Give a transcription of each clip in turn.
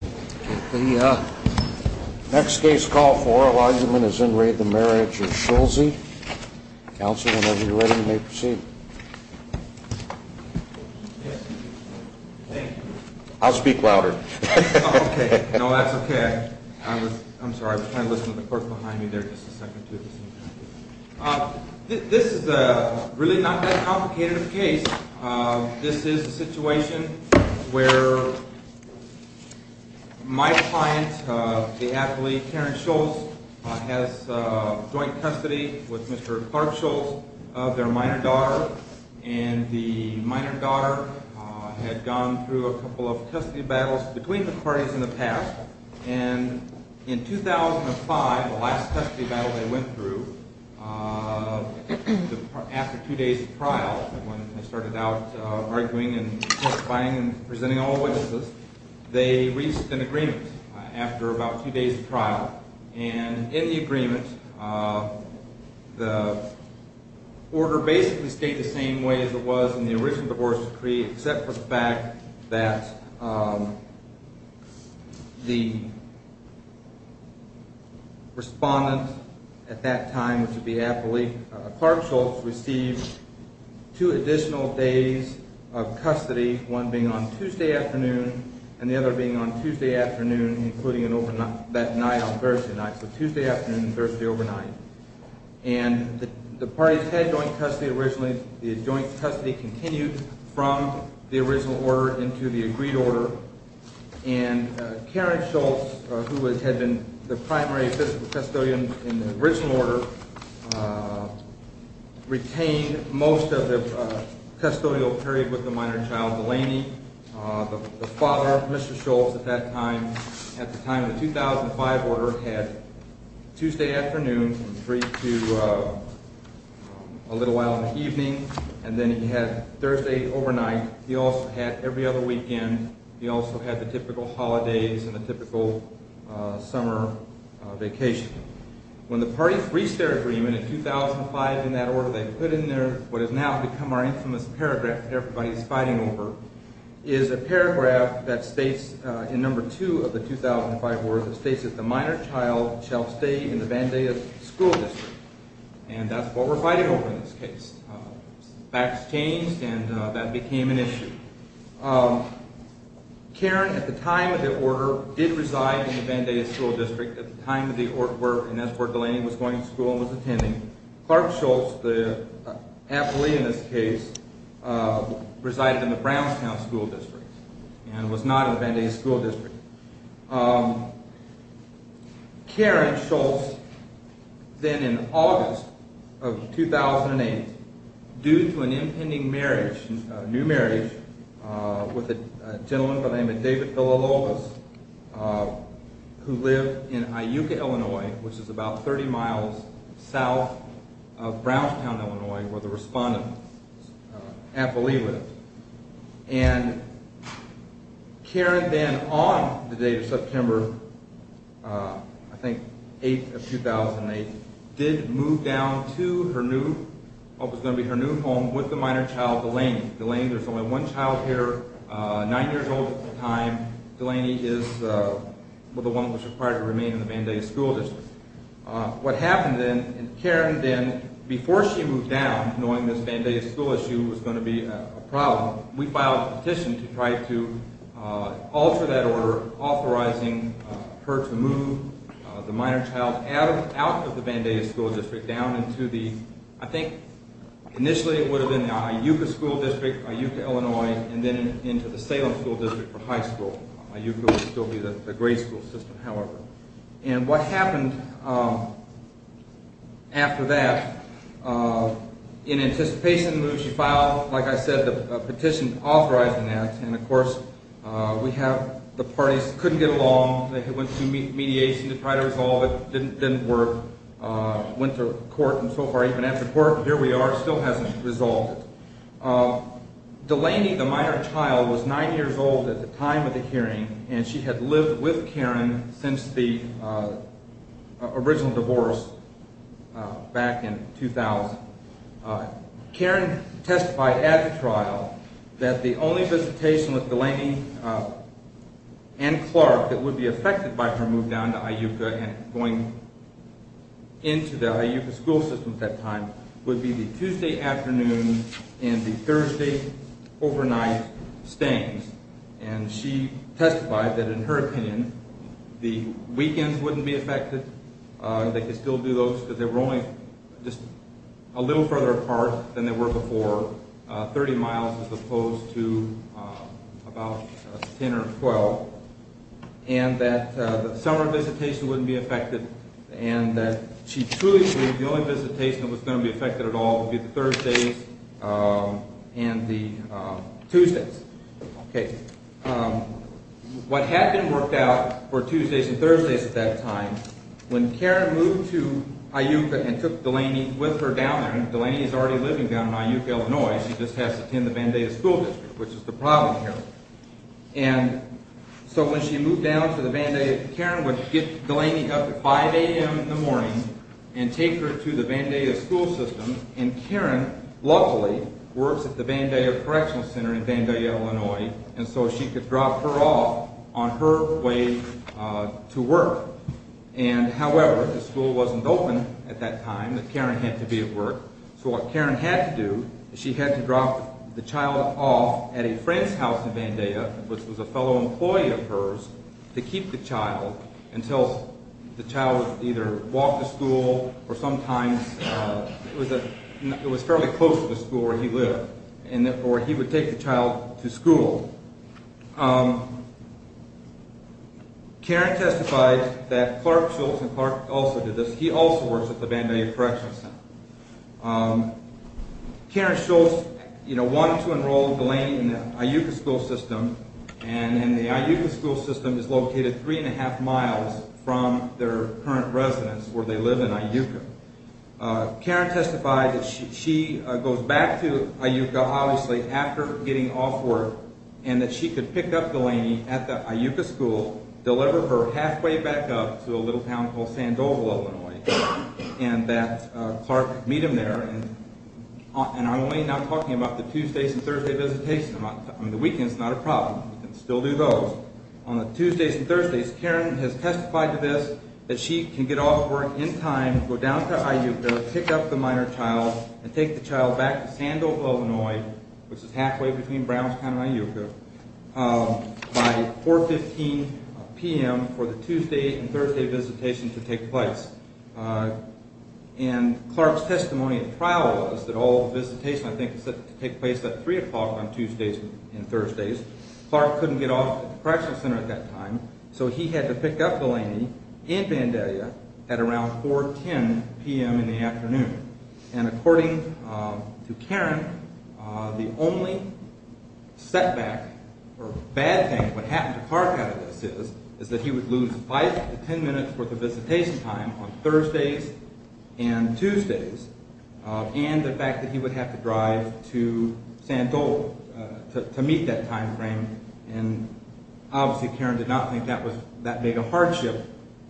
Council, whenever you're ready, you may proceed. I'll speak louder. Okay, no, that's okay. I'm sorry, I was trying to listen to the clerk behind me there just a second. This is a really not that complicated a case. This is a situation where my client, the athlete Karen Schulze, has joint custody with Mr. Clark Schulze, their minor daughter, and the minor daughter had gone through a couple of custody battles between the parties in the past, and in 2005, the last custody battle they went through, after two days of trial, when they started out arguing and testifying and presenting all the witnesses, they reached an agreement after about two days of trial. And in the agreement, the order basically stayed the same way as it was in the original divorce decree, except for the fact that the respondent at that time, which would be Adelaide Clark Schulze, received two additional days of custody, one being on Tuesday afternoon, and the other being on Tuesday afternoon, including that night on Thursday night, so Tuesday afternoon and Thursday overnight. And the parties had joint custody originally, the joint custody continued from the original order into the agreed order, and Karen Schulze, who had been the primary fiscal custodian in the original order, retained most of the custodial period with the minor child, Delaney. The father, Mr. Schulze, at that time, at the time of the 2005 order, had Tuesday afternoon and three to a little while in the evening, and then he had Thursday overnight. He also had every other weekend, he also had the typical holidays and the typical summer vacation. When the parties reached their agreement in 2005 in that order, they put in there what has now become our infamous paragraph that everybody is fighting over, is a paragraph that states in number two of the 2005 order, it states that the minor child shall stay in the Vandaya school district. And that's what we're fighting over in this case. Facts changed, and that became an issue. Karen, at the time of the order, did reside in the Vandaya school district. At the time of the order, and that's where Delaney was going to school and was attending. Clark Schulze, the athlete in this case, resided in the Brownstown school district, and was not in the Vandaya school district. Karen Schulze, then in August of 2008, due to an impending marriage, new marriage, with a gentleman by the name of David Villalobos, who lived in Iuka, Illinois, which is about 30 miles south of Brownstown, Illinois, where the respondent's affilee lived. And Karen then, on the date of September, I think, 8th of 2008, did move down to what was going to be her new home with the minor child, Delaney. Delaney, there's only one child here, nine years old at the time. Delaney is the one that was required to remain in the Vandaya school district. What happened then, and Karen then, before she moved down, knowing this Vandaya school issue was going to be a problem, we filed a petition to try to alter that order, authorizing her to move the minor child out of the Vandaya school district, down into the, I think, initially it would have been the Iuka school district, Iuka, Illinois, and then into the Salem school district for high school. Iuka would still be the grade school system, however. And what happened after that, in anticipation of the move, she filed, like I said, a petition authorizing that. And, of course, we have the parties couldn't get along. They went through mediation to try to resolve it. It didn't work. Went to court, and so far, even after court, here we are, still hasn't resolved it. Delaney, the minor child, was nine years old at the time of the hearing, and she had lived with Karen since the original divorce back in 2000. Karen testified at the trial that the only visitation with Delaney and Clark that would be affected by her move down to Iuka and going into the Iuka school system at that time would be the Tuesday afternoon and the Thursday overnight stayings. And she testified that, in her opinion, the weekends wouldn't be affected. They could still do those, but they were only just a little further apart than they were before, 30 miles as opposed to about 10 or 12, and that the summer visitation wouldn't be affected, and that she truly believed the only visitation that was going to be affected at all would be the Thursdays and the Tuesdays. Okay. What had been worked out for Tuesdays and Thursdays at that time, when Karen moved to Iuka and took Delaney with her down there, and Delaney is already living down in Iuka, Illinois, she just has to attend the Vandaya school district, which is the problem here. And so when she moved down to the Vandaya, Karen would get Delaney up at 5 a.m. in the morning and take her to the Vandaya school system, and Karen, luckily, works at the Vandaya Correctional Center in Vandaya, Illinois, and so she could drop her off on her way to work. And, however, the school wasn't open at that time, and Karen had to be at work. So what Karen had to do is she had to drop the child off at a friend's house in Vandaya, which was a fellow employee of hers, to keep the child until the child would either walk to school or sometimes it was fairly close to the school where he lived, or he would take the child to school. Karen testified that Clark Schultz, and Clark also did this, he also works at the Vandaya Correctional Center. Karen Schultz wanted to enroll Delaney in the Iuka school system, and the Iuka school system is located 3 1⁄2 miles from their current residence, where they live in Iuka. Karen testified that she goes back to Iuka, obviously, after getting off work, and that she could pick up Delaney at the Iuka school, deliver her halfway back up to a little town called Sandoval, Illinois, and that Clark could meet him there. And I'm only now talking about the Tuesdays and Thursday visitation. The weekend's not a problem. You can still do those. On the Tuesdays and Thursdays, Karen has testified to this, that she can get off work in time, go down to Iuka, pick up the minor child, and take the child back to Sandoval, Illinois, which is halfway between Browns County and Iuka, by 4.15 p.m. for the Tuesday and Thursday visitation to take place. And Clark's testimony at trial was that all the visitation, I think, took place at 3 o'clock on Tuesdays and Thursdays. Clark couldn't get off at the correctional center at that time, so he had to pick up Delaney in Vandalia at around 4.10 p.m. in the afternoon. And according to Karen, the only setback or bad thing that would happen to Clark out of this is that he would lose five to ten minutes worth of visitation time on Thursdays and Tuesdays, and the fact that he would have to drive to Sandoval to meet that time frame. And obviously Karen did not think that made a hardship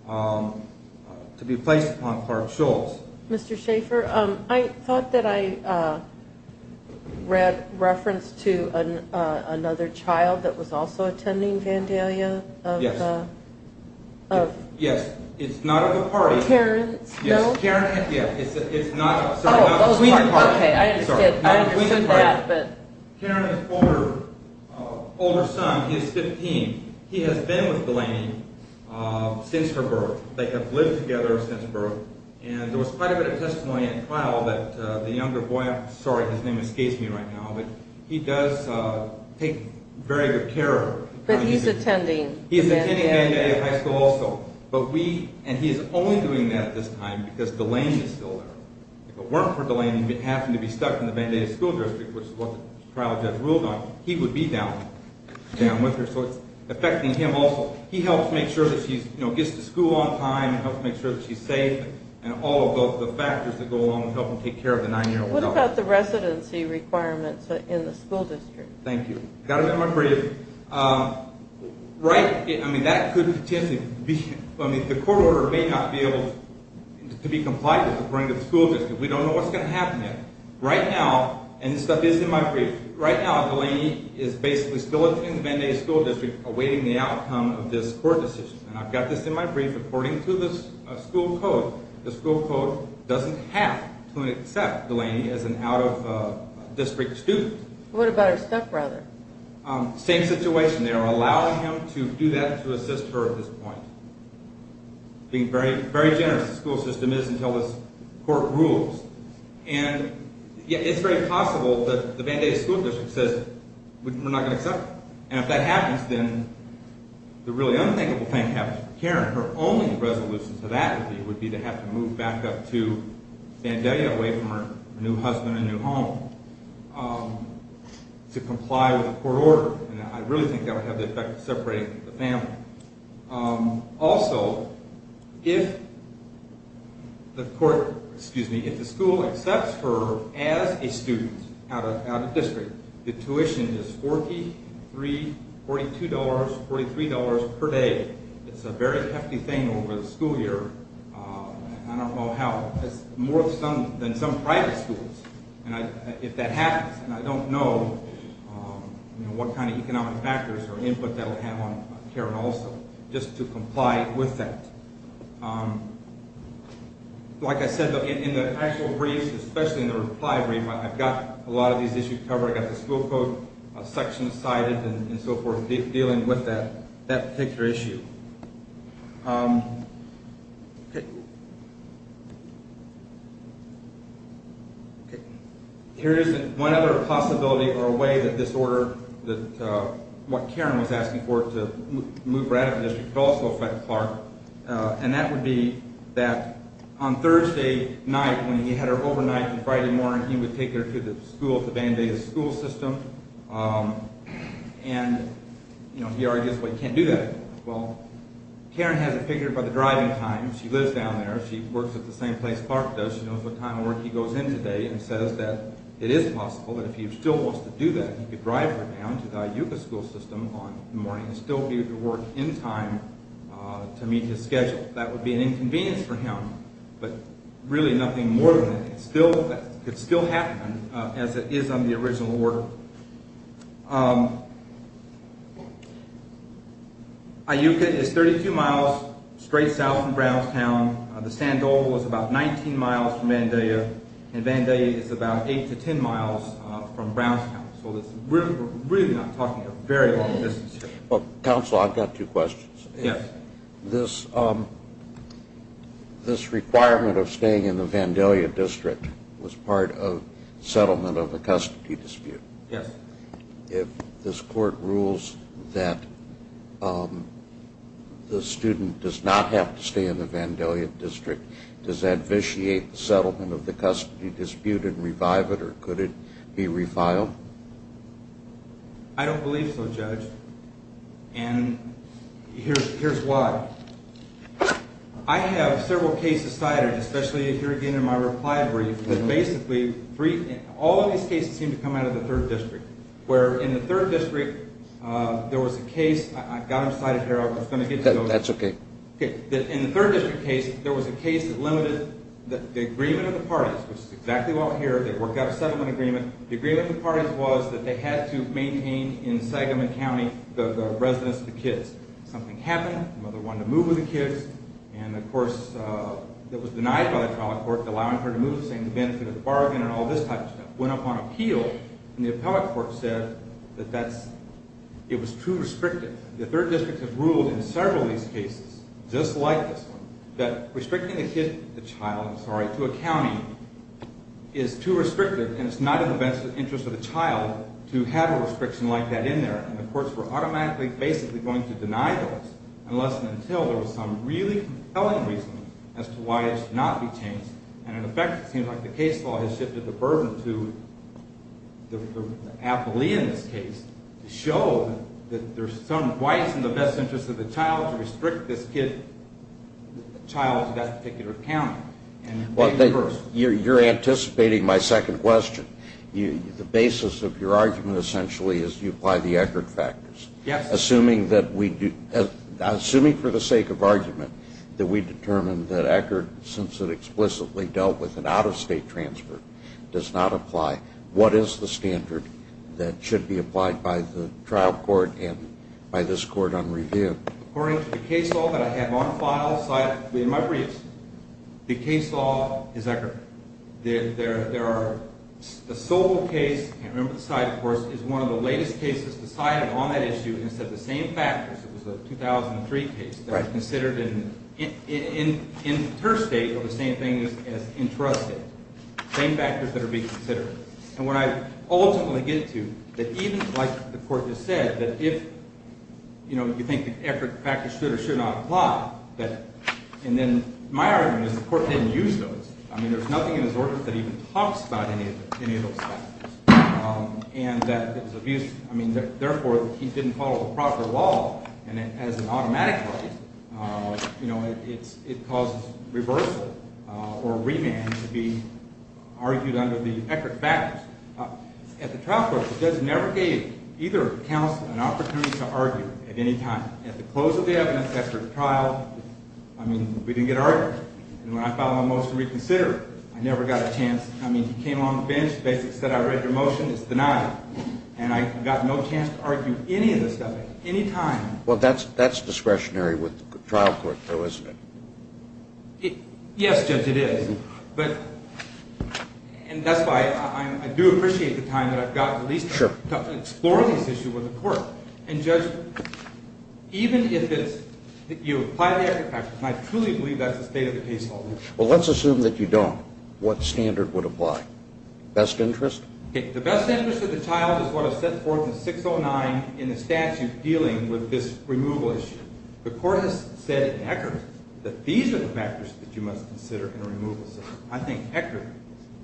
to be placed upon Clark Schultz. Mr. Schaffer, I thought that I read reference to another child that was also attending Vandalia. Yes. Yes, it's not of the party. Karen's? No? Karen, yes, it's not of the party. Okay, I understand that. Karen's older son, he's 15, he has been with Delaney since her birth. They have lived together since birth. And there was quite a bit of testimony at trial that the younger boy, I'm sorry his name escapes me right now, but he does take very good care of her. But he's attending. He's attending Vandalia High School also. And he is only doing that at this time because Delaney is still there. If it weren't for Delaney having to be stuck in the Vandalia School District, which is what the trial judge ruled on, he would be down with her. So it's affecting him also. He helps make sure that she gets to school on time, helps make sure that she's safe, and all of the factors that go along with helping take care of the nine-year-old. What about the residency requirements in the school district? Thank you. I've got to be brief. The court order may not be able to be complied with according to the school district. We don't know what's going to happen yet. Right now, and this stuff is in my brief, right now Delaney is basically still in the Vandalia School District awaiting the outcome of this court decision. And I've got this in my brief according to the school code. The school code doesn't have to accept Delaney as an out-of-district student. What about her stepbrother? Same situation there, allowing him to do that to assist her at this point. Being very generous, the school system is until this court rules. And yet it's very possible that the Vandalia School District says, we're not going to accept her. And if that happens, then the really unthinkable thing happens. Karen, her only resolution to that would be to have to move back up to Vandalia, away from her new husband and new home, to comply with the court order. And I really think that would have the effect of separating the family. Also, if the school accepts her as a student out-of-district, the tuition is $43, $42, $43 per day. It's a very hefty thing over the school year. I don't know how. It's more than some private schools. If that happens, and I don't know what kind of economic factors or input that will have on Karen also, just to comply with that. Like I said, in the actual briefs, especially in the reply brief, I've got a lot of these issues covered. I've got the school code section decided and so forth, dealing with that particular issue. Here is one other possibility or way that this order, what Karen was asking for to move her out of the district, could also affect Clark. And that would be that on Thursday night, when he had her overnight, on Friday morning, he would take her to the school, to Vandalia's school system. And he argues, well, you can't do that. Well, Karen has it figured by the driving time. She lives down there. She works at the same place Clark does. She knows what time of work he goes in today and says that it is possible that if he still wants to do that, he could drive her down to the Iuka school system in the morning and still be able to work in time to meet his schedule. That would be an inconvenience for him, but really nothing more than that. It could still happen as it is on the original order. Iuka is 32 miles straight south from Brownstown. The Sandoval is about 19 miles from Vandalia, and Vandalia is about 8 to 10 miles from Brownstown. So we're really not talking a very long distance here. Counsel, I've got two questions. Yes. This requirement of staying in the Vandalia district was part of the settlement of the custody dispute. Yes. If this court rules that the student does not have to stay in the Vandalia district, does that vitiate the settlement of the custody dispute and revive it, or could it be refiled? I don't believe so, Judge, and here's why. I have several cases cited, especially here again in my reply brief, but basically all of these cases seem to come out of the 3rd District, where in the 3rd District there was a case. I've got them cited here. I was going to get to those. That's okay. Okay. In the 3rd District case, there was a case that limited the agreement of the parties, which is exactly what we're here. They worked out a settlement agreement. The agreement of the parties was that they had to maintain in Sagamon County the residence of the kids. Something happened. The mother wanted to move with the kids, and, of course, that was denied by the appellate court, allowing her to move, saying the benefit of the bargain and all this type of stuff, went up on appeal, and the appellate court said that it was too restrictive. The 3rd District has ruled in several of these cases, just like this one, that restricting the child to a county is too restrictive, and it's not in the best interest of the child to have a restriction like that in there. And the courts were automatically basically going to deny those unless and until there was some really compelling reason as to why it should not be changed. And, in effect, it seems like the case law has shifted the burden to the appellee in this case to show that there's some why it's in the best interest of the child to restrict this child to that particular county. You're anticipating my second question. The basis of your argument, essentially, is you apply the Eckert factors. Yes. Assuming for the sake of argument that we determine that Eckert, since it explicitly dealt with an out-of-state transfer, does not apply, what is the standard that should be applied by the trial court and by this court on review? According to the case law that I have on file in my briefs, the case law is Eckert. The sole case, and remember the side, of course, is one of the latest cases decided on that issue and said the same factors. It was a 2003 case that was considered interstate or the same thing as intrastate, the same factors that are being considered. And what I ultimately get to, that even like the court just said, that if you think the Eckert factors should or should not apply, and then my argument is the court didn't use those. I mean, there's nothing in his ordinance that even talks about any of those factors. And that it was abused. I mean, therefore, he didn't follow the proper law, and as an automatic case, you know, it causes reversal or remand to be argued under the Eckert factors. At the trial court, the judge never gave either counsel an opportunity to argue at any time. At the close of the evidence, after the trial, I mean, we didn't get argued. And when I filed my motion to reconsider, I never got a chance. I mean, he came on the bench, basically said, I read your motion, it's denied. And I got no chance to argue any of this stuff at any time. Well, that's discretionary with the trial court, though, isn't it? Yes, Judge, it is. And that's why I do appreciate the time that I've got at least to explore this issue with the court. And, Judge, even if you apply the Eckert factors, and I truly believe that's the state of the case already. Well, let's assume that you don't. What standard would apply? Best interest? The best interest of the child is what is set forth in 609 in the statute dealing with this removal issue. The court has said in Eckert that these are the factors that you must consider in a removal system. I think Eckert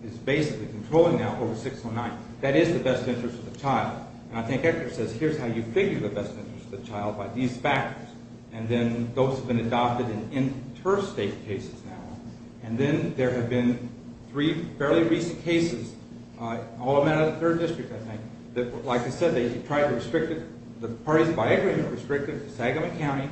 is basically controlling that over 609. That is the best interest of the child. And I think Eckert says here's how you figure the best interest of the child by these factors. And then those have been adopted in interstate cases now. And then there have been three fairly recent cases, all of them out of the 3rd District, I think, that, like I said, they tried to restrict it. The parties by Eckert have restricted it to Sagamon County,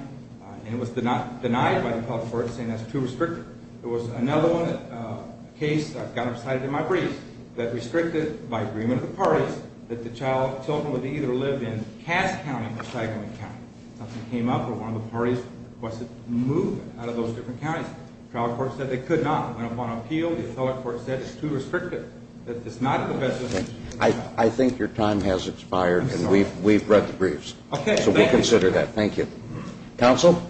and it was denied by the public court, saying that's too restrictive. There was another one, a case I've kind of cited in my brief, that restricted by agreement of the parties that the children would either live in Cass County or Sagamon County. Something came up where one of the parties requested to move out of those different counties. The trial court said they could not. It went up on appeal. The appellate court said it's too restrictive. It's not the best interest of the child. I think your time has expired, and we've read the briefs. Okay. So we'll consider that. Thank you. Counsel?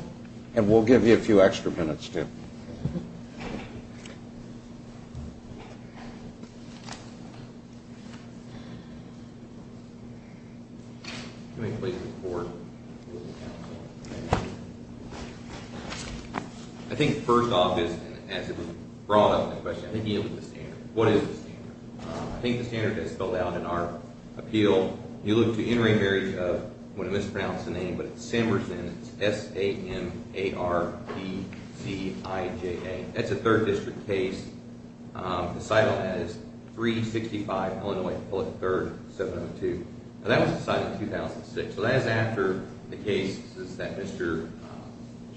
And we'll give you a few extra minutes, too. Thank you. Can we please report? I think first off is, as it was brought up in the question, I think you need to look at the standard. What is the standard? I think the standard that's spelled out in our appeal, you look to in-ring marriage of, I'm going to mispronounce the name, but it's Sambersen. It's S-A-M-A-R-E-C-I-J-A. That's a third district case. The site on that is 365 Illinois 3rd, 702. Now, that was decided in 2006. So that is after the case that Mr.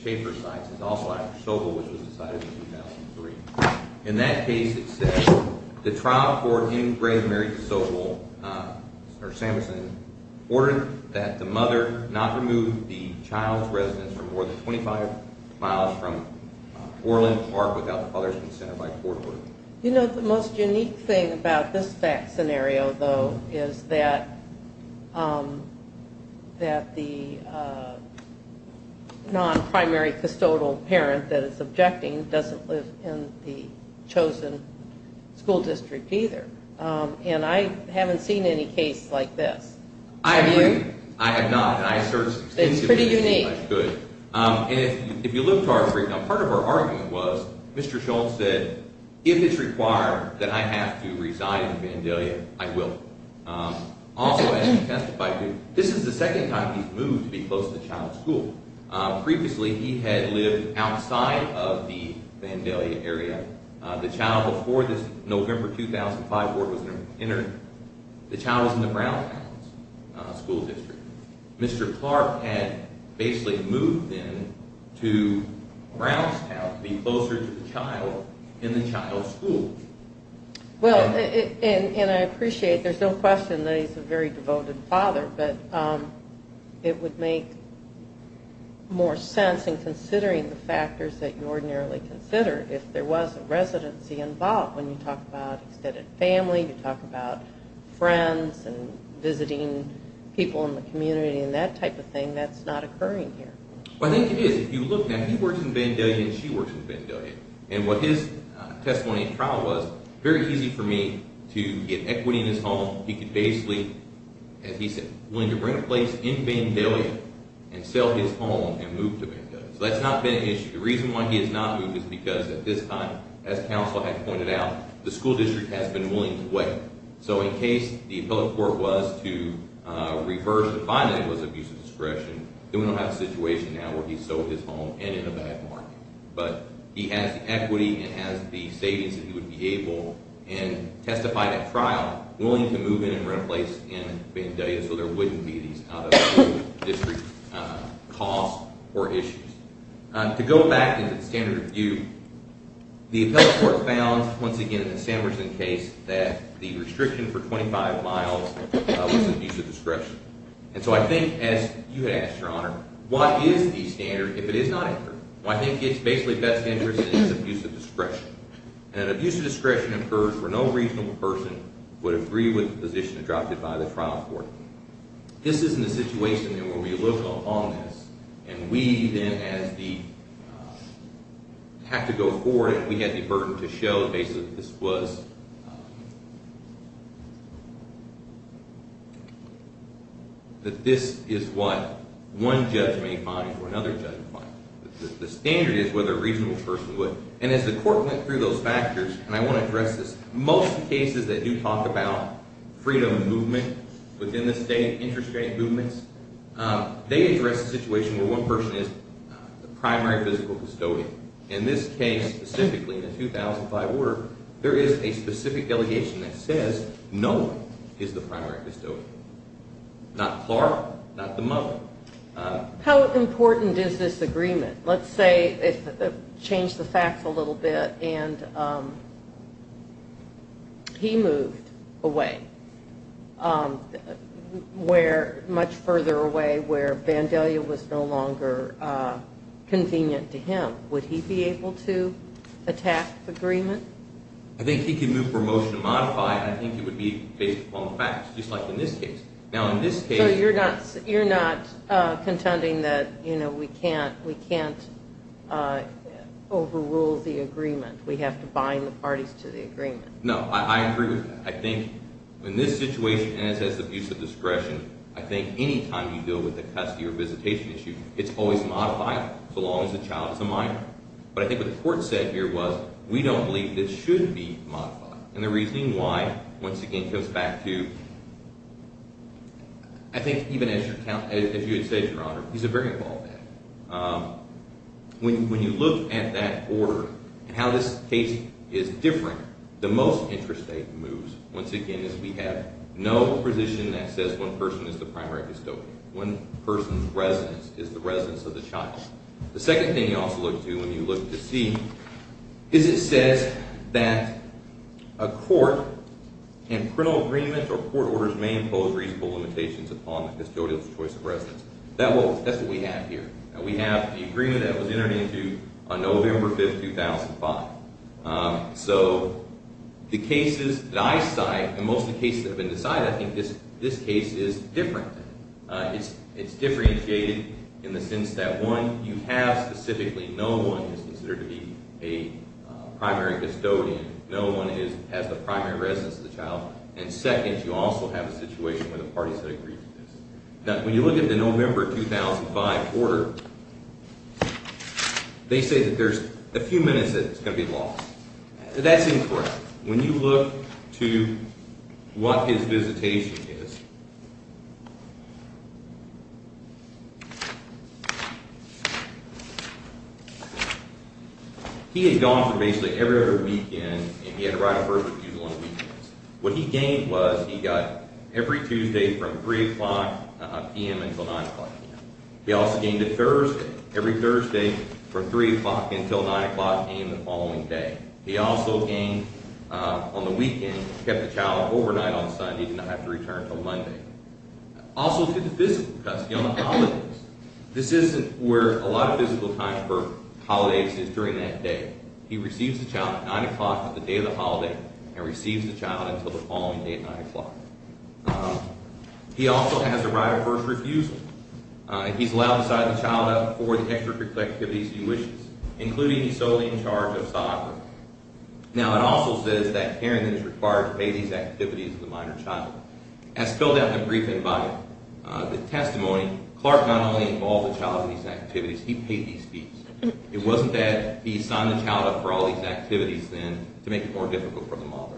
Schaefer cites is also after Sobel, which was decided in 2003. In that case, it says, the trial court in-ring married Sobel, or Sambersen, ordered that the mother not remove the child's residence from more than 25 miles from Orland Park without the father's consent by court order. You know, the most unique thing about this fact scenario, though, is that the non-primary custodial parent that is objecting doesn't live in the chosen school district either. And I haven't seen any case like this. I agree. Have you? I have not. It's pretty unique. And if you look to our three, now part of our argument was Mr. Schultz said, if it's required that I have to reside in Vandalia, I will. Also, as he testified to, this is the second time he's moved to be close to the child's school. Previously, he had lived outside of the Vandalia area. The child, before this November 2005 board was entered, the child was in the Brownstown school district. Mr. Clark had basically moved then to Brownstown to be closer to the child in the child's school. Well, and I appreciate there's no question that he's a very devoted father, but it would make more sense in considering the factors that you ordinarily consider if there was a residency involved. When you talk about extended family, you talk about friends and visiting people in the community and that type of thing, that's not occurring here. Well, I think it is. If you look now, he works in Vandalia and she works in Vandalia. And what his testimony in trial was, very easy for me to get equity in his home. He could basically, as he said, willing to rent a place in Vandalia and sell his home and move to Vandalia. So that's not been an issue. The reason why he has not moved is because at this time, as counsel had pointed out, the school district has been willing to wait. So in case the appellate court was to reverse the finding that it was abuse of discretion, then we don't have a situation now where he sold his home and in a bad market. But he has the equity and has the savings that he would be able and testified at trial willing to move in and rent a place in Vandalia so there wouldn't be these out-of-school district costs or issues. To go back to the standard of view, the appellate court found, once again in the Sanderson case, that the restriction for 25 miles was abuse of discretion. And so I think, as you had asked, Your Honor, what is the standard if it is not incurred? Well, I think it's basically best interest that it's abuse of discretion. And an abuse of discretion occurs where no reasonable person would agree with the position adopted by the trial court. This isn't a situation where we look upon this and we then have to go forward and we have the burden to show that this is what one judge may find or another judge may find. The standard is whether a reasonable person would. And as the court went through those factors, and I want to address this, most cases that do talk about freedom of movement within the state, interest rate movements, they address the situation where one person is the primary physical custodian. In this case, specifically in the 2005 order, there is a specific delegation that says no one is the primary custodian. Not Clark, not the mother. How important is this agreement? Let's change the facts a little bit. And he moved away, much further away where Vandalia was no longer convenient to him. Would he be able to attack the agreement? I think he could move for a motion to modify it. I think it would be based upon the facts, just like in this case. So you're not contending that we can't overrule the agreement. We have to bind the parties to the agreement. No, I agree with that. I think in this situation, and it says abuse of discretion, I think any time you deal with a custody or visitation issue, it's always modified, so long as the child is a minor. But I think what the court said here was we don't believe this should be modified. And the reasoning why, once again, comes back to, I think even as you had said, Your Honor, he's a very involved man. When you look at that order and how this case is different, the most interesting moves, once again, is we have no position that says one person is the primary custodian. One person's residence is the residence of the child. The second thing you also look to when you look to see is it says that a court and parental agreement or court orders may impose reasonable limitations upon the custodial choice of residence. That's what we have here. We have the agreement that was entered into on November 5, 2005. So the cases that I cite, and most of the cases that have been decided, I think this case is different. It's differentiated in the sense that, one, you have specifically no one is considered to be a primary custodian. No one has the primary residence of the child. And second, you also have a situation where the parties have agreed to this. Now, when you look at the November 2005 order, they say that there's a few minutes that it's going to be lost. That seems correct. When you look to what his visitation is, he had gone for basically every other weekend, and he had to write a first refusal on weekends. What he gained was he got every Tuesday from 3 o'clock p.m. until 9 o'clock p.m. He also gained it Thursday. Every Thursday from 3 o'clock until 9 o'clock came the following day. He also gained, on the weekend, kept the child overnight on Sunday. He did not have to return until Monday. Also to the physical custody on the holidays. This isn't where a lot of physical time for holidays is during that day. He receives the child at 9 o'clock on the day of the holiday, and receives the child until the following day at 9 o'clock. He also has a right of first refusal. He's allowed to sign the child up for the extracurricular activities he wishes, including solely in charge of soccer. Now, it also says that parenting is required to pay these activities to the minor child. As spelled out in the briefing by the testimony, Clark not only involved the child in these activities, he paid these fees. It wasn't that he signed the child up for all these activities then to make it more difficult for the mother.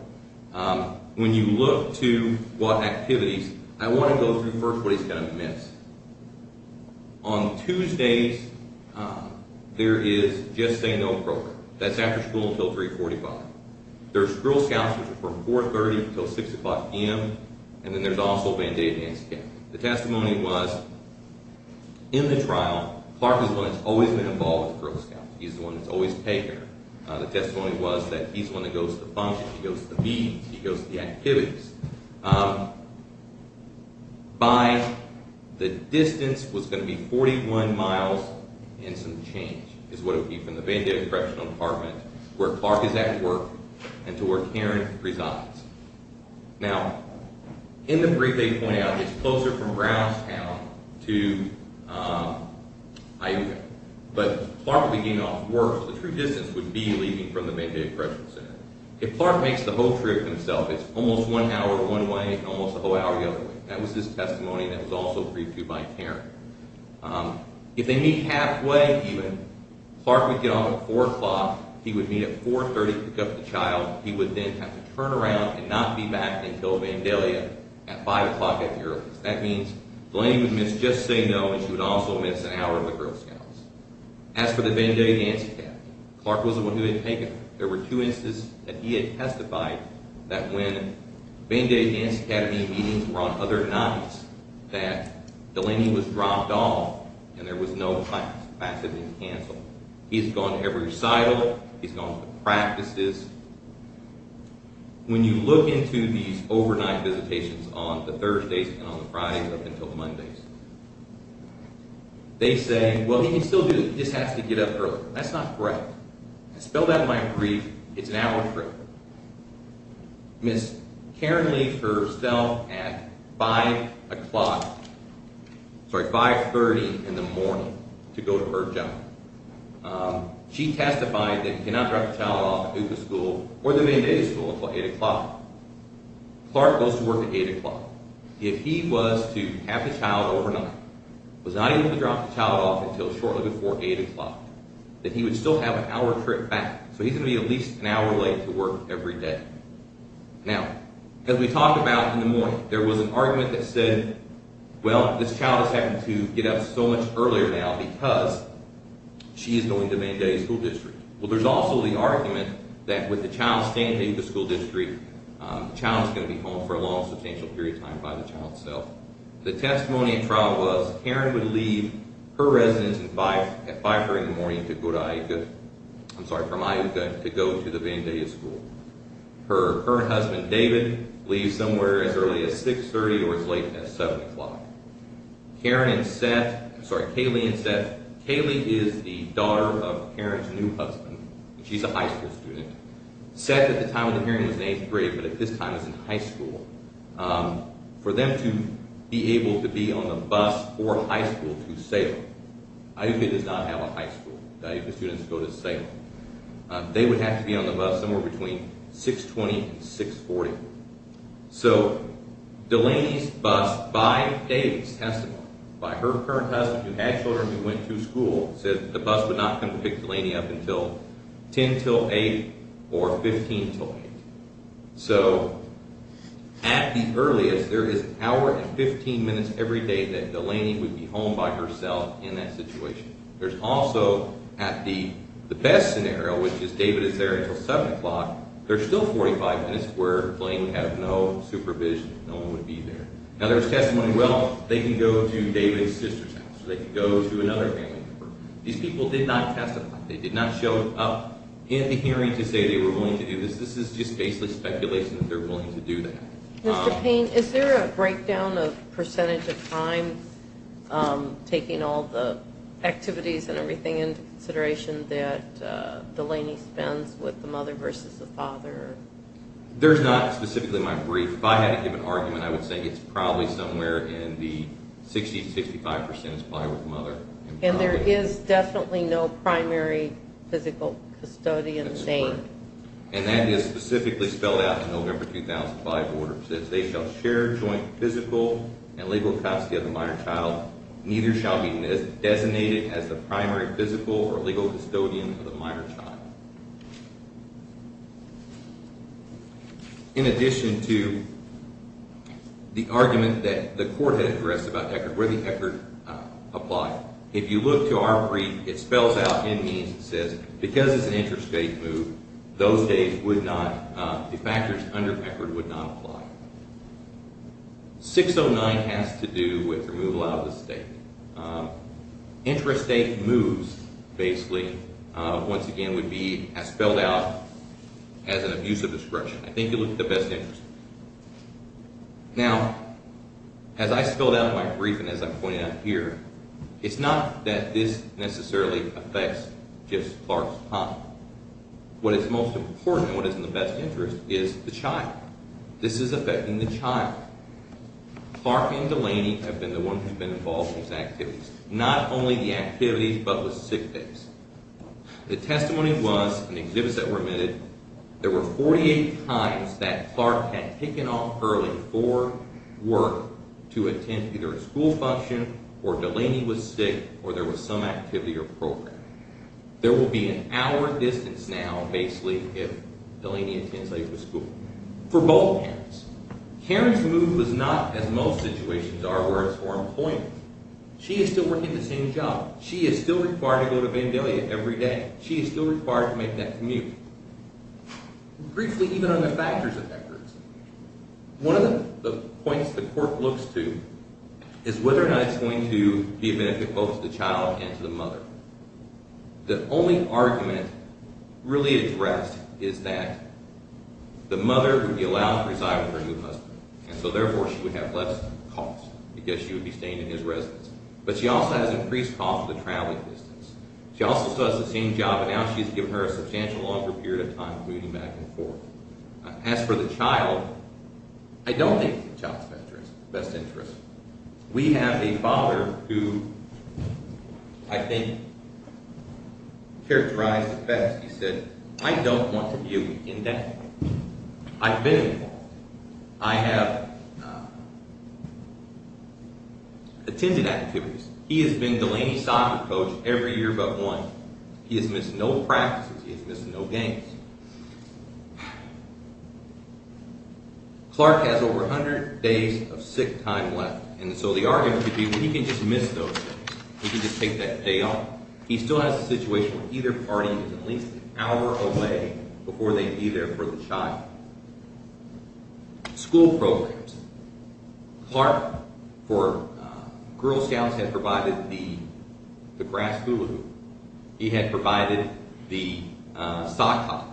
When you look to what activities, I want to go through first what he's going to miss. On Tuesdays, there is Just Say No program. That's after school until 345. There's Girl Scouts, which are from 430 until 6 o'clock p.m. And then there's also Band-Aid and NCAT. The testimony was, in the trial, Clark is the one that's always been involved with the Girl Scouts. He's the one that's always taken them. The testimony was that he's the one that goes to the functions. He goes to the meetings. He goes to the activities. By the distance was going to be 41 miles and some change is what it would be from the Band-Aid Correctional Department, where Clark is at work, and to where Karen resides. Now, in the brief they point out, it's closer from Brownstown to IUCAA. But Clark would be getting off work, so the true distance would be leaving from the Band-Aid Correctional Center. If Clark makes the whole trip himself, it's almost one hour one way and almost a whole hour the other way. That was his testimony that was also briefed to by Karen. If they meet halfway, even, Clark would get off at 4 o'clock. He would meet at 430 to pick up the child. He would then have to turn around and not be back until Vandalia at 5 o'clock at the earliest. That means Delaney would miss Just Say No, and she would also miss an hour of the Girl Scouts. As for the Vandalia-NCAT, Clark was the one who had taken them. There were two instances that he had testified that when Band-Aid-NCAT meetings were on other nights, that Delaney was dropped off and there was no class. Classes were canceled. He's gone to every recital. He's gone to practices. When you look into these overnight visitations on the Thursdays and on the Fridays up until Mondays, they say, well, he can still do it. He just has to get up early. That's not correct. I spelled out in my brief, it's an hour trip. Ms. Karen leaves herself at 5 o'clock, sorry, 530 in the morning to go to her job. She testified that he cannot drop the child off at Hoopa School or the main day school until 8 o'clock. Clark goes to work at 8 o'clock. If he was to have the child overnight, was not able to drop the child off until shortly before 8 o'clock, that he would still have an hour trip back. So he's going to be at least an hour late to work every day. Now, as we talked about in the morning, there was an argument that said, well, this child is having to get up so much earlier now because she is going to Band-Aid School District. Well, there's also the argument that with the child staying at Hoopa School District, the child is going to be home for a long, substantial period of time by the child itself. The testimony in trial was Karen would leave her residence at 5 o'clock in the morning to go to Iuka, I'm sorry, from Iuka to go to the Band-Aid School. Her current husband, David, leaves somewhere as early as 630 or as late as 7 o'clock. Karen and Seth, I'm sorry, Kaylee and Seth, Kaylee is the daughter of Karen's new husband. She's a high school student. Seth at the time of the hearing was in 8th grade, but at this time was in high school. For them to be able to be on the bus for high school to Salem, Iuka does not have a high school. The Iuka students go to Salem. They would have to be on the bus somewhere between 620 and 640. So Delaney's bus, by David's testimony, by her current husband who had children who went to school, said the bus would not come to pick Delaney up until 10 till 8 or 15 till 8. So at the earliest, there is an hour and 15 minutes every day that Delaney would be home by herself in that situation. There's also, at the best scenario, which is David is there until 7 o'clock, there's still 45 minutes where Delaney would have no supervision. No one would be there. Now there's testimony, well, they can go to David's sister's house or they can go to another family member. These people did not testify. They did not show up at the hearing to say they were willing to do this. This is just basically speculation that they're willing to do that. Mr. Payne, is there a breakdown of percentage of time taking all the activities and everything into consideration that Delaney spends with the mother versus the father? There's not specifically my brief. If I had to give an argument, I would say it's probably somewhere in the 60 to 65 percent is probably with the mother. And there is definitely no primary physical custodian name. And that is specifically spelled out in November 2005 order. It says they shall share joint physical and legal custody of the minor child. Neither shall be designated as the primary physical or legal custodian of the minor child. In addition to the argument that the court had addressed about where the HECR applied, if you look to our brief, it spells out in means it says because it's an intrastate move, those days the factors under HECR would not apply. 609 has to do with removal out of the state. Intrastate moves basically, once again, would be spelled out as an abuse of discretion. I think you look at the best interest. Now, as I spelled out in my brief and as I'm pointing out here, it's not that this necessarily affects just Clark's time. What is most important, what is in the best interest, is the child. This is affecting the child. Clark and Delaney have been the ones who have been involved in these activities. Not only the activities, but with sick days. The testimony was, and the exhibits that were omitted, there were 48 times that Clark had taken off early for work to attend either a school function, or Delaney was sick, or there was some activity or program. There will be an hour distance now, basically, if Delaney attends late for school. For both parents. Karen's move was not, as most situations are, where it's for employment. She is still working the same job. She is still required to go to Vandalia every day. She is still required to make that commute. Briefly, even on the factors of that person. One of the points the court looks to is whether or not it's going to be a benefit both to the child and to the mother. The only argument really addressed is that the mother would be allowed to reside with her new husband, and so therefore she would have less costs because she would be staying in his residence. But she also has an increased cost of the traveling distance. She also still has the same job, but now she's given her a substantially longer period of time of moving back and forth. As for the child, I don't think the child's the best interest. We have a father who, I think, characterized the best. He said, I don't want to be a weekend dad. I've been involved. I have attended activities. He has been Delaney soccer coach every year but once. He has missed no practices. He has missed no games. Clark has over 100 days of sick time left. And so the argument would be, well, he can just miss those things. He can just take that day off. He still has a situation where either party is at least an hour away before they'd be there for the child. School programs. Clark, for Girl Scouts, had provided the grass hula hoop. He had provided the soccer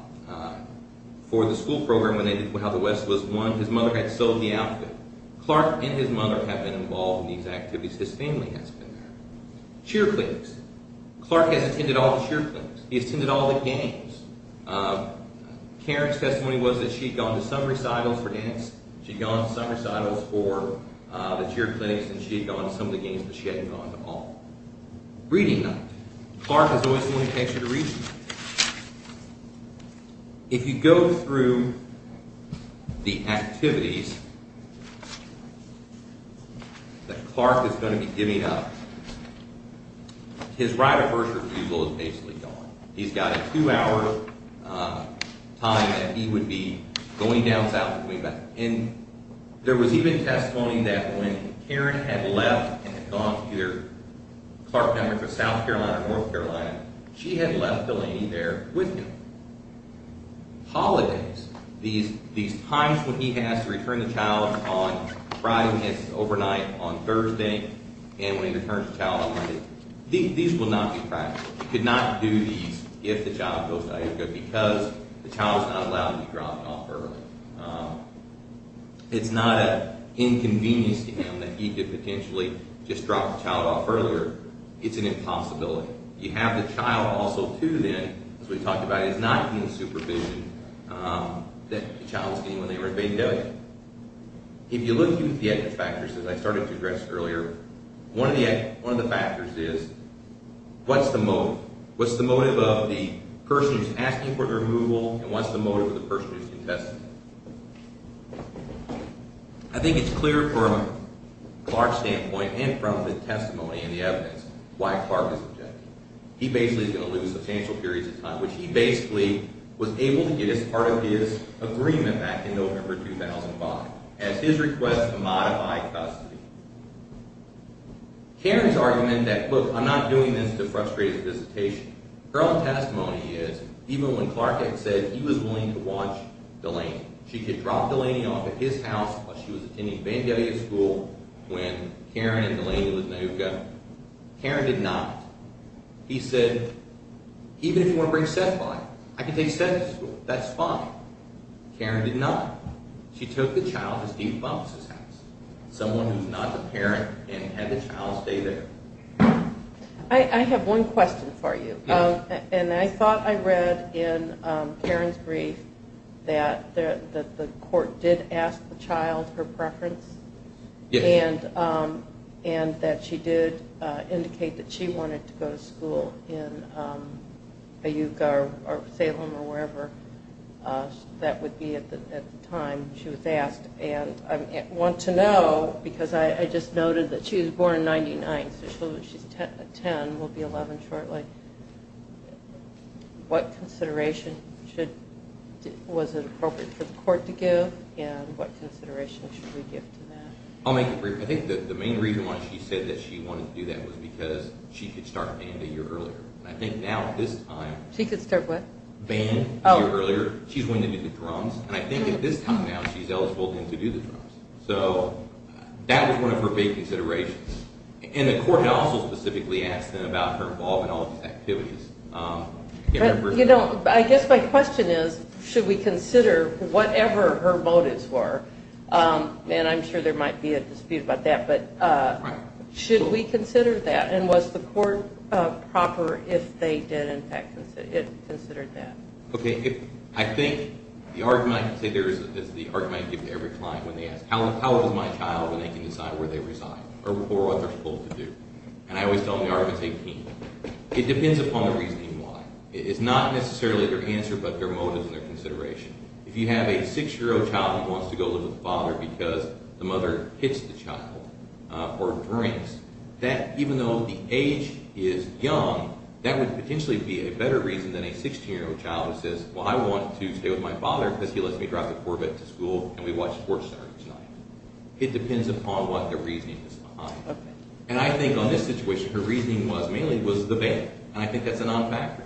for the school program when they did How the West was Won. His mother had sold the outfit. Clark and his mother have been involved in these activities. His family has been there. Cheer clinics. Clark has attended all the cheer clinics. He has attended all the games. Karen's testimony was that she had gone to some recitals for dance. She had gone to some recitals for the cheer clinics. And she had gone to some of the games but she hadn't gone to all. Reading night. Clark has always wanted to take you to reading night. If you go through the activities that Clark is going to be giving up, his right of first refusal is basically gone. He's got a two-hour time that he would be going down south and going back. And there was even testimony that when Karen had left and had gone to either Clark, South Carolina or North Carolina, she had left Delaney there with him. Holidays. These times when he has to return the child on Friday and it's overnight on Thursday and when he returns the child on Monday. These will not be practical. He could not do these if the child goes to Ithaca because the child is not allowed to be dropped off early. It's not an inconvenience to him that he could potentially just drop the child off earlier. It's an impossibility. You have the child also to then, as we talked about, is not in supervision that the child was getting when they were in Bay Delta. If you look at the factors, as I started to address earlier, one of the factors is what's the motive? What's the motive of the person who's asking for the removal and what's the motive of the person who's contesting? I think it's clear from Clark's standpoint and from the testimony and the evidence why Clark is objecting. He basically is going to lose substantial periods of time, which he basically was able to get as part of his agreement back in November 2005 as his request to modify custody. Karen's argument that, look, I'm not doing this to frustrate his visitation. Her own testimony is, even when Clark had said he was willing to watch Delaney, she could drop Delaney off at his house while she was attending Vandalia School when Karen and Delaney was in Ithaca. Karen did not. He said, even if you want to bring Seth by, I can take Seth to school. That's fine. Karen did not. She took the child to Steve Buffs' house, someone who's not the parent and had the child stay there. I have one question for you, and I thought I read in Karen's brief that the court did ask the child her preference and that she did indicate that she wanted to go to school in Iuka or Salem or wherever that would be at the time she was asked. And I want to know, because I just noted that she was born in 99, so she's 10, will be 11 shortly, what consideration was it appropriate for the court to give and what consideration should we give to that? I'll make it brief. I think that the main reason why she said that she wanted to do that was because she could start band a year earlier. I think now, at this time… She could start what? Band a year earlier. She's going to do the drums, and I think at this time now she's eligible to do the drums. So that was one of her big considerations. And the court also specifically asked about her involvement in all of these activities. You know, I guess my question is, should we consider whatever her motives were? And I'm sure there might be a dispute about that, but should we consider that? And was the court proper if they did, in fact, consider that? Okay, I think the argument I can say there is the argument I give to every client when they ask, how old is my child, and they can decide where they reside or what they're supposed to do. And I always tell them the argument is 18. It depends upon the reasoning why. It's not necessarily their answer, but their motives and their consideration. If you have a 6-year-old child who wants to go live with a father because the mother hits the child or drinks, that, even though the age is young, that would potentially be a better reason than a 16-year-old child who says, well, I want to stay with my father because he lets me drive the Corvette to school and we watch SportsCenter each night. It depends upon what their reasoning is behind it. And I think on this situation her reasoning was mainly was the bank, and I think that's a non-factor.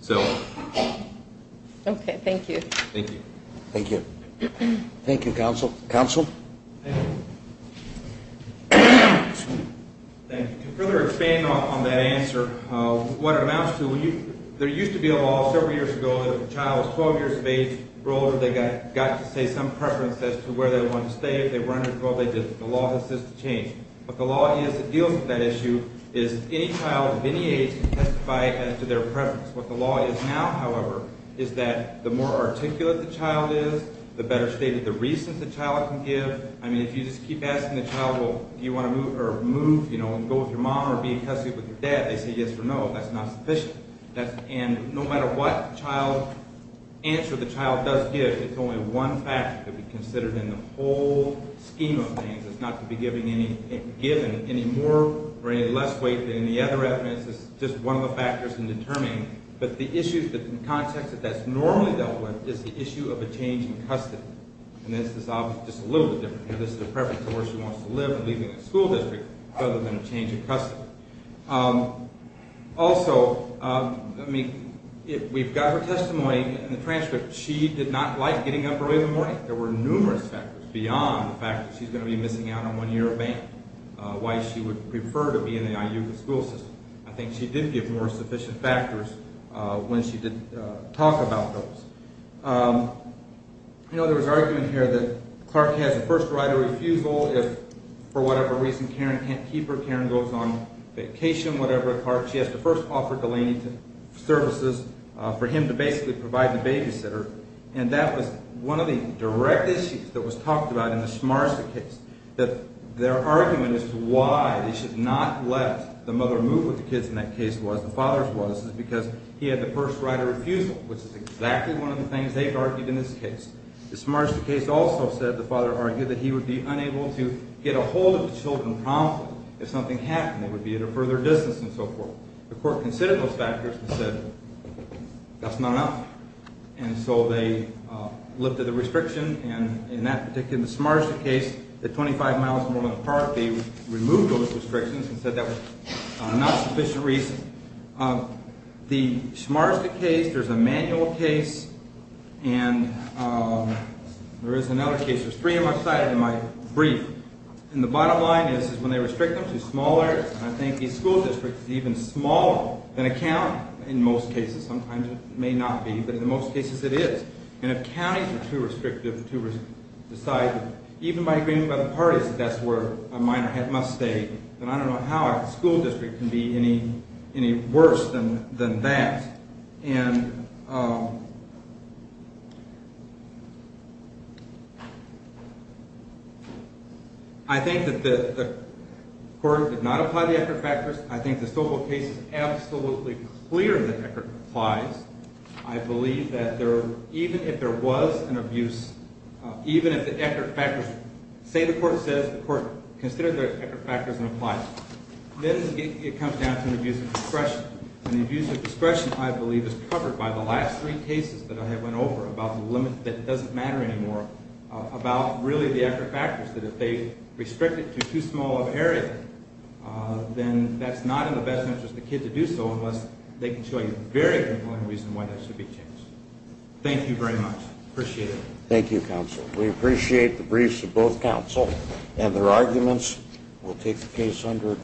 So. Okay, thank you. Thank you. Thank you. Thank you, counsel. Counsel? Thank you. Thank you. To further expand on that answer, what it amounts to, there used to be a law several years ago that if a child was 12 years of age or older, they got to say some preference as to where they wanted to stay. If they were under 12, they did. The law has since changed. What the law is that deals with that issue is any child of any age can testify as to their preference. What the law is now, however, is that the more articulate the child is, the better stated the reasons the child can give. I mean, if you just keep asking the child, well, do you want to move, you know, go with your mom or be in custody with your dad, they say yes or no, that's not sufficient. And no matter what answer the child does give, it's only one factor to be considered in the whole scheme of things. It's not to be given any more or any less weight than any other reference. This is just one of the factors in determining. But the issue, the context that that's normally dealt with is the issue of a change in custody. And this is just a little bit different. This is a preference of where she wants to live and leaving the school district rather than a change in custody. Also, I mean, we've got her testimony in the transcript. She did not like getting up early in the morning. There were numerous factors beyond the fact that she's going to be missing out on one year of bank, why she would prefer to be in the IUCAA school system. I think she did give more sufficient factors when she did talk about those. You know, there was argument here that Clark has a first right of refusal if, for whatever reason, Karen can't keep her, Karen goes on vacation, whatever. Clark, she has to first offer Delaney services for him to basically provide the babysitter. And that was one of the direct issues that was talked about in the Schmarzer case, that their argument as to why they should not let the mother move with the kids in that case was, the father's was, is because he had the first right of refusal, which is exactly one of the things they've argued in this case. The Schmarzer case also said the father argued that he would be unable to get a hold of the children promptly if something happened. They would be at a further distance and so forth. The court considered those factors and said that's not enough. And so they lifted the restriction. And in that particular case, the Schmarzer case, the 25 miles apart, they removed those restrictions and said that was not sufficient reason. The Schmarzer case, there's a manual case, and there is another case. There's three on my slide and my brief. And the bottom line is when they restrict them to smaller, I think these school districts are even smaller than a county in most cases. Sometimes it may not be, but in most cases it is. And if counties are too restrictive to decide, even by agreement by the parties that that's where a minor must stay, then I don't know how a school district can be any worse than that. And I think that the court did not apply the Eckert factors. I think this total case is absolutely clear that Eckert applies. I believe that even if there was an abuse, even if the Eckert factors, say the court says the court considered the Eckert factors and applies, then it comes down to an abuse of discretion. And the abuse of discretion, I believe, is covered by the last three cases that I have went over about the limit that doesn't matter anymore, about really the Eckert factors, that if they restrict it to too small of an area, then that's not in the best interest of the kid to do so unless they can show you a very good point of reason why that should be changed. Thank you very much. I appreciate it. Thank you, counsel. We appreciate the briefs of both counsel and their arguments. We'll take the case under adjournment.